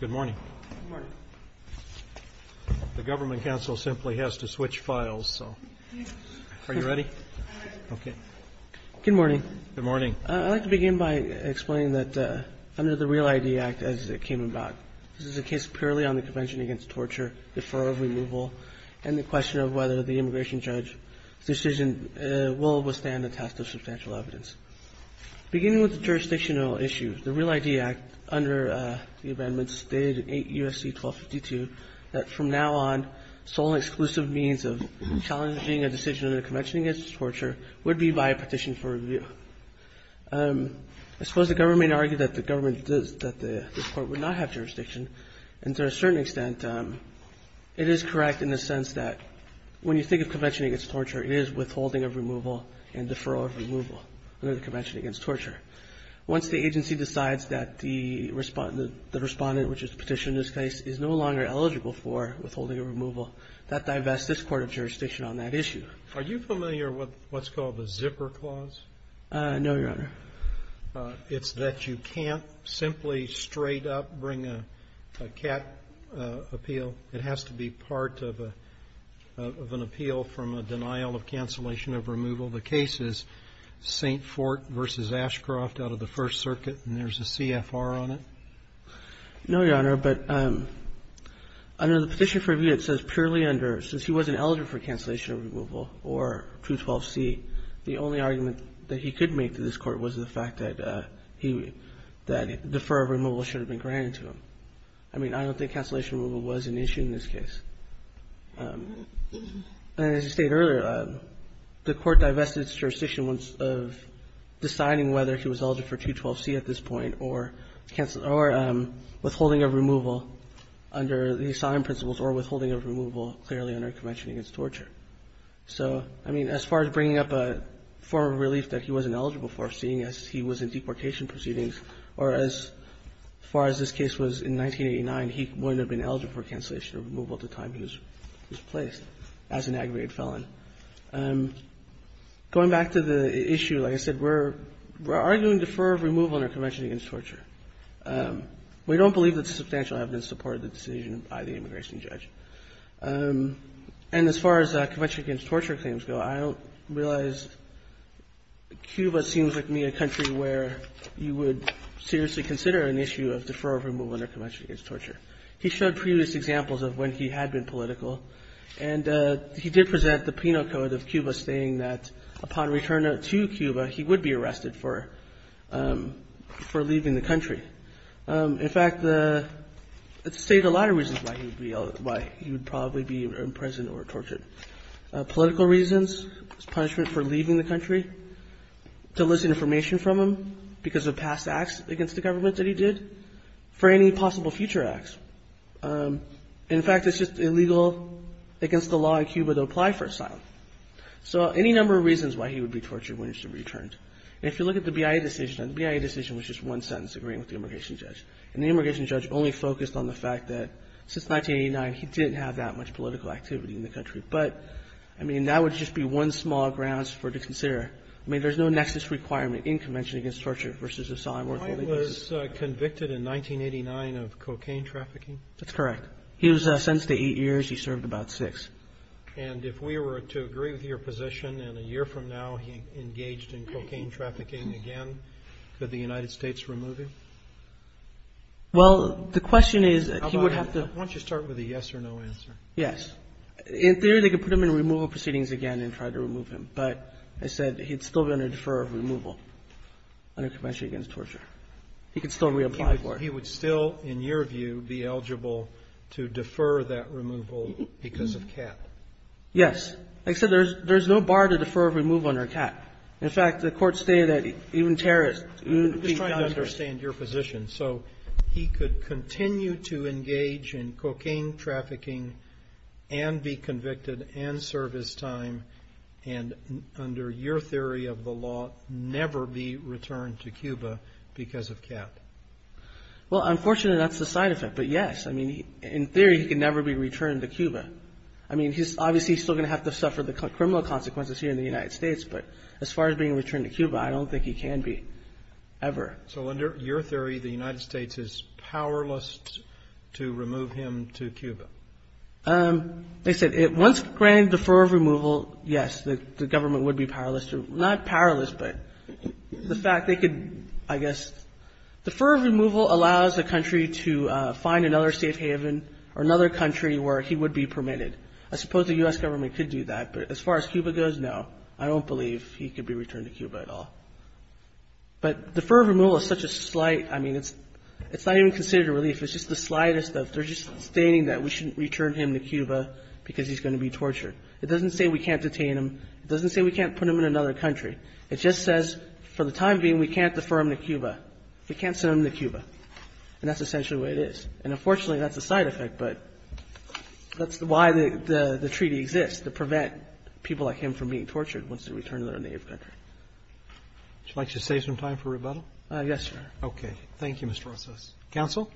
Good morning. I would like to begin by explaining that under the REAL ID Act, as it came about, this is a case purely on the Convention Against Torture, Defer of Removal, and the question of whether the immigration judge's decision will withstand the test of substantial evidence. Beginning with the jurisdictional issue, the REAL ID Act, under the amendments stated in 8 U.S.C. 1252, that from now on, sole and exclusive means of challenging a decision under the Convention Against Torture would be by a petition for review. I suppose the government argued that the government – that this Court would not have the power to do that, but to a certain extent, it is correct in the sense that when you think of Convention Against Torture, it is withholding of removal and deferral of removal under the Convention Against Torture. Once the agency decides that the Respondent, which is the petitioner in this case, is no longer eligible for withholding a removal, that divests this court of jurisdiction on that issue. Are you familiar with what's called the zipper clause? No, Your Honor. It's that you can't simply straight up bring a CAT appeal. It has to be part of an appeal from a denial of cancellation of removal. The case is St. Fort v. Ashcroft out of the First Circuit, and there's a CFR on it? No, Your Honor. But under the petition for review, it says purely under – since he wasn't eligible for cancellation of removal or 212C, the only argument that he could make to this Court was the fact that he – that defer of removal should have been granted to him. I mean, I don't think cancellation of removal was an issue in this case. And as you stated earlier, the Court divested its jurisdiction once – of deciding whether he was eligible for 212C at this point or withholding of removal under the So, I mean, as far as bringing up a form of relief that he wasn't eligible for, seeing as he was in deportation proceedings, or as far as this case was in 1989, he wouldn't have been eligible for cancellation of removal at the time he was placed as an aggravated felon. Going back to the issue, like I said, we're arguing defer of removal in our Convention against Torture. We don't believe it's substantial evidence to support the decision by the immigration judge. And as far as Convention against Torture claims go, I don't realize Cuba seems like to me a country where you would seriously consider an issue of defer of removal under Convention against Torture. He showed previous examples of when he had been political, and he did present the penal code of Cuba, stating that upon return to Cuba, he would be arrested for – for leaving the country. In fact, it stated a lot of reasons why he would be – why he would probably be imprisoned or tortured. Political reasons, his punishment for leaving the country, to elicit information from him because of past acts against the government that he did, for any possible future acts. In fact, it's just illegal against the law in Cuba to apply for asylum. So any number of reasons why he would be tortured when he should be returned. And if you look at the BIA decision, the BIA decision was just one sentence, agreeing with the immigration judge. And the immigration judge only focused on the fact that since 1989, he didn't have that much political activity in the country. But, I mean, that would just be one small grounds for – to consider. I mean, there's no nexus requirement in Convention against Torture versus asylum or torture. He was convicted in 1989 of cocaine trafficking. That's correct. He was sentenced to eight years. He served about six. And if we were to agree with your position and a year from now he engaged in cocaine trafficking again, could the United States remove him? Well, the question is that he would have to – Why don't you start with a yes or no answer? Yes. In theory, they could put him in removal proceedings again and try to remove him. But I said he'd still be under defer of removal under Convention against Torture. He could still reapply for it. But he would still, in your view, be eligible to defer that removal because of CAT? Yes. Like I said, there's no bar to defer removal under CAT. In fact, the court stated that even terrorists – I'm just trying to understand your position. So he could continue to engage in cocaine trafficking and be convicted and serve his time and, under your theory of the law, never be returned to Cuba because of CAT? Well, unfortunately, that's the side effect. But yes. I mean, in theory, he could never be returned to Cuba. I mean, obviously, he's still going to have to suffer the criminal consequences here in the United States. But as far as being returned to Cuba, I don't think he can be ever. So under your theory, the United States is powerless to remove him to Cuba? Like I said, once granted defer of removal, yes, the government would be powerless to – not powerless, but the fact they could, I guess – defer of removal allows a country to find another safe haven or another country where he would be permitted. I suppose the U.S. government could do that. But as far as Cuba goes, no. I don't believe he could be returned to Cuba at all. But defer of removal is such a slight – I mean, it's not even considered a relief. It's just the slightest of – they're just stating that we shouldn't return him to Cuba because he's going to be tortured. It doesn't say we can't detain him. It doesn't say we can't put him in another country. It just says, for the time being, we can't defer him to Cuba. We can't send him to Cuba. And that's essentially what it is. And unfortunately, that's a side effect, but that's why the treaty exists, to prevent people like him from being tortured once they return to their native country. Would you like to save some time for rebuttal? Yes, Your Honor. Okay. Thank you, Mr. Rosas. Counsel.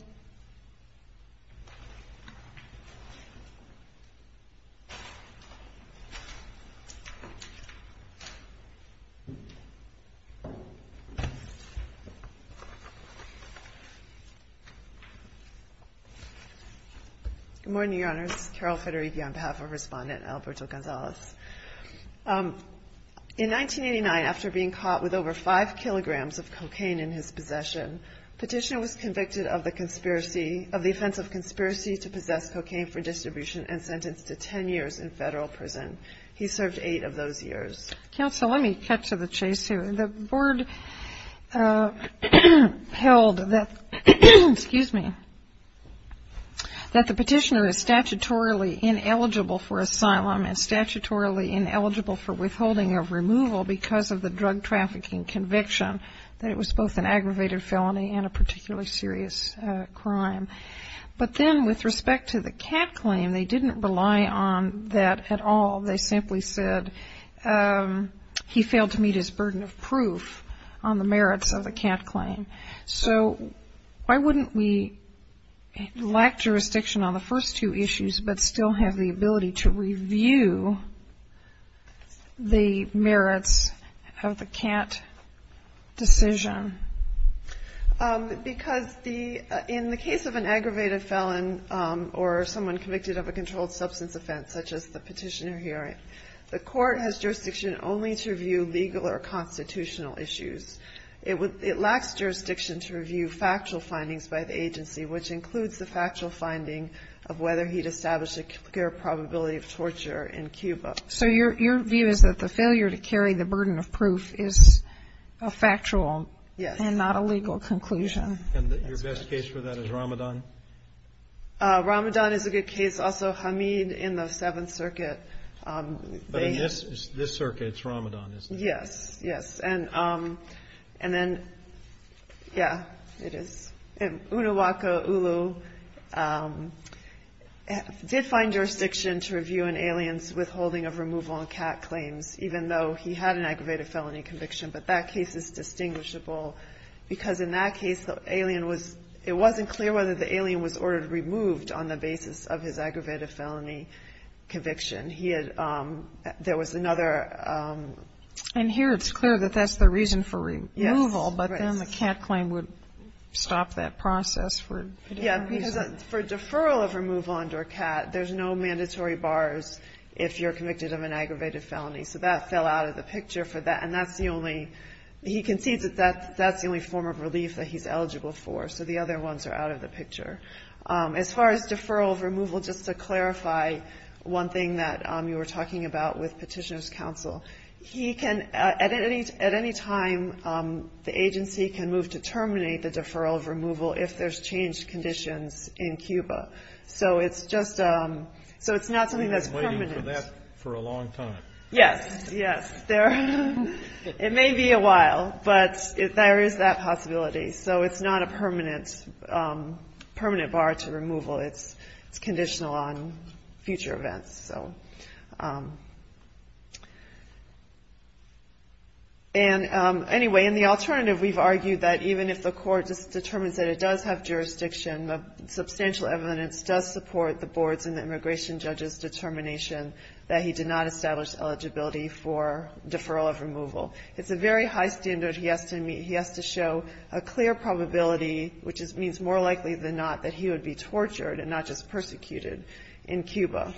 Good morning, Your Honors. Carol Federighi on behalf of Respondent Alberto Gonzalez. In 1989, after being caught with over 5 kilograms of cocaine in his possession, Petitioner was convicted of the conspiracy – of the offense of conspiracy to possess cocaine for distribution and sentenced to 10 years in federal prison. He served eight of those years. Counsel, let me cut to the chase here. The board held that – excuse me – that the Petitioner is statutorily ineligible for asylum and statutorily ineligible for withholding of removal because of the drug felony and a particularly serious crime. But then with respect to the Catt claim, they didn't rely on that at all. They simply said he failed to meet his burden of proof on the merits of the Catt claim. So why wouldn't we lack jurisdiction on the first two issues but still have the ability to review the merits of the Catt decision? Because the – in the case of an aggravated felon or someone convicted of a controlled substance offense, such as the Petitioner here, the court has jurisdiction only to review legal or constitutional issues. It would – it lacks jurisdiction to review factual findings by the agency, which includes the factual finding of whether he'd established a clear probability of torture in Cuba. So your view is that the failure to carry the burden of proof is a factual and not a legal conclusion. Yes. And your best case for that is Ramadan? Ramadan is a good case. Also, Hamid in the Seventh Circuit – But in this circuit, it's Ramadan, isn't it? Yes. Yes. And then – yeah, it is. And Unawaka Ulu did find jurisdiction to review an alien's withholding of removal on Catt claims, even though he had an aggravated felony conviction, but that case is distinguishable because in that case, the alien was – it wasn't clear whether the alien was ordered removed on the basis of his aggravated felony conviction. He had – there was another – And here, it's clear that that's the reason for removal, but then the Catt claim would stop that process for a different reason. Yeah, because for deferral of removal under Catt, there's no mandatory bars if you're convicted of an aggravated felony. So that fell out of the picture for that, and that's the only – he concedes that that's the only form of relief that he's eligible for. So the other ones are out of the picture. As far as deferral of removal, just to clarify one thing that you were talking about with removal if there's changed conditions in Cuba. So it's just – so it's not something that's permanent. We've been waiting for that for a long time. Yes. Yes. There – it may be a while, but there is that possibility. So it's not a permanent bar to removal. It's conditional on future events, so – and anyway, in the alternative, we've argued that even if the court just determines that it does have jurisdiction, the substantial evidence does support the board's and the immigration judge's determination that he did not establish eligibility for deferral of removal. It's a very high standard he has to – he has to show a clear probability, which means more likely than not, that he would be tortured and not just persecuted in Cuba,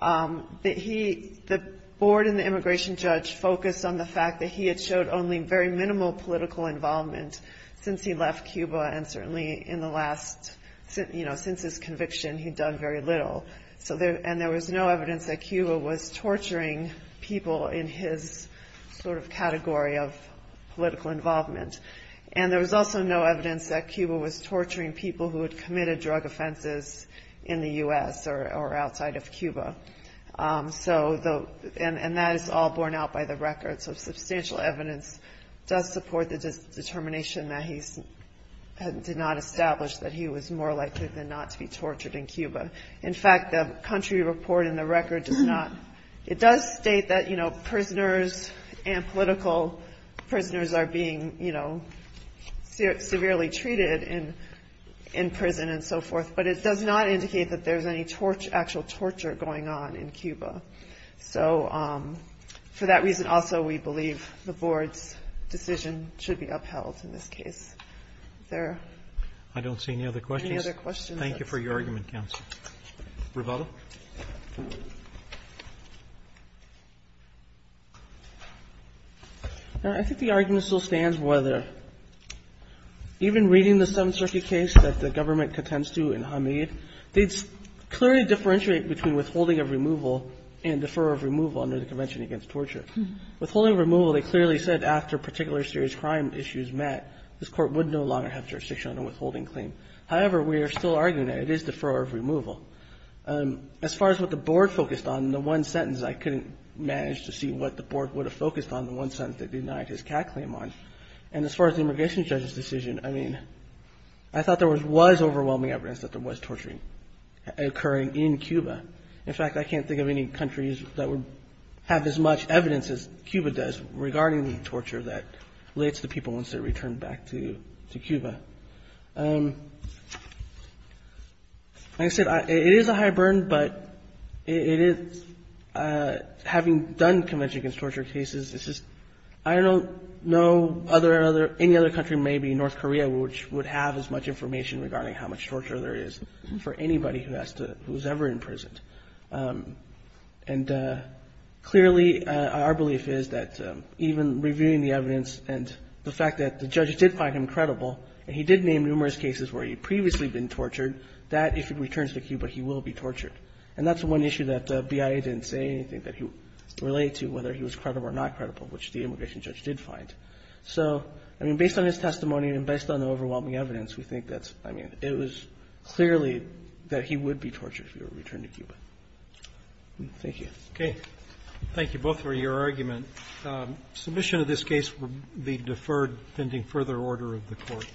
that he – the board and the immigration judge focused on the fact that he had showed only very minimal political involvement since he left Cuba and certainly in the last – since his conviction, he'd done very little. So there – and there was no evidence that Cuba was torturing people in his sort of category of political involvement. And there was also no evidence that Cuba was torturing people who had committed drug offenses in the U.S. or outside of Cuba. So the – and that is all borne out by the record. So substantial evidence does support the determination that he did not establish that he was more likely than not to be tortured in Cuba. In fact, the country report in the record does not – it does state that prisoners and political prisoners are being severely treated in prison and so forth, but it does not indicate that there's any actual torture going on in Cuba. So for that reason also, we believe the board's decision should be upheld in this case. Is there any other questions? Roberts. I don't see any other questions. Thank you for your argument, counsel. Revato. I think the argument still stands whether even reading the Seventh Circuit case that the government contends to in Hamid, they clearly differentiate between withholding of removal and defer of removal under the Convention Against Torture. Withholding of removal, they clearly said after particular serious crime issues met, this Court would no longer have jurisdiction on a withholding claim. However, we are still arguing that it is defer of removal. As far as what the board focused on in the one sentence, I couldn't manage to see what the board would have focused on in the one sentence they denied his CAT claim on. And as far as the immigration judge's decision, I mean, I thought there was overwhelming evidence that there was torturing occurring in Cuba. In fact, I can't think of any countries that would have as much evidence as Cuba does regarding the torture that relates to people once they return back to Cuba. Like I said, it is a high burden, but it is, having done Convention Against Torture cases, it's just I don't know other, any other country, maybe North Korea, which would have as much information regarding how much torture there is for anybody who has to, who is ever imprisoned. And clearly, our belief is that even reviewing the evidence and the fact that the judge did find him credible, and he did name numerous cases where he had previously been tortured, that if he returns to Cuba, he will be tortured. And that's one issue that BIA didn't say anything that he would relate to, whether he was credible or not credible, which the immigration judge did find. So, I mean, based on his testimony and based on the overwhelming evidence, we think that's, I mean, it was clearly that he would be tortured if he were to return to Cuba. Thank you. Roberts. Okay. Thank you both for your argument. Submission of this case will be deferred pending further order of the Court.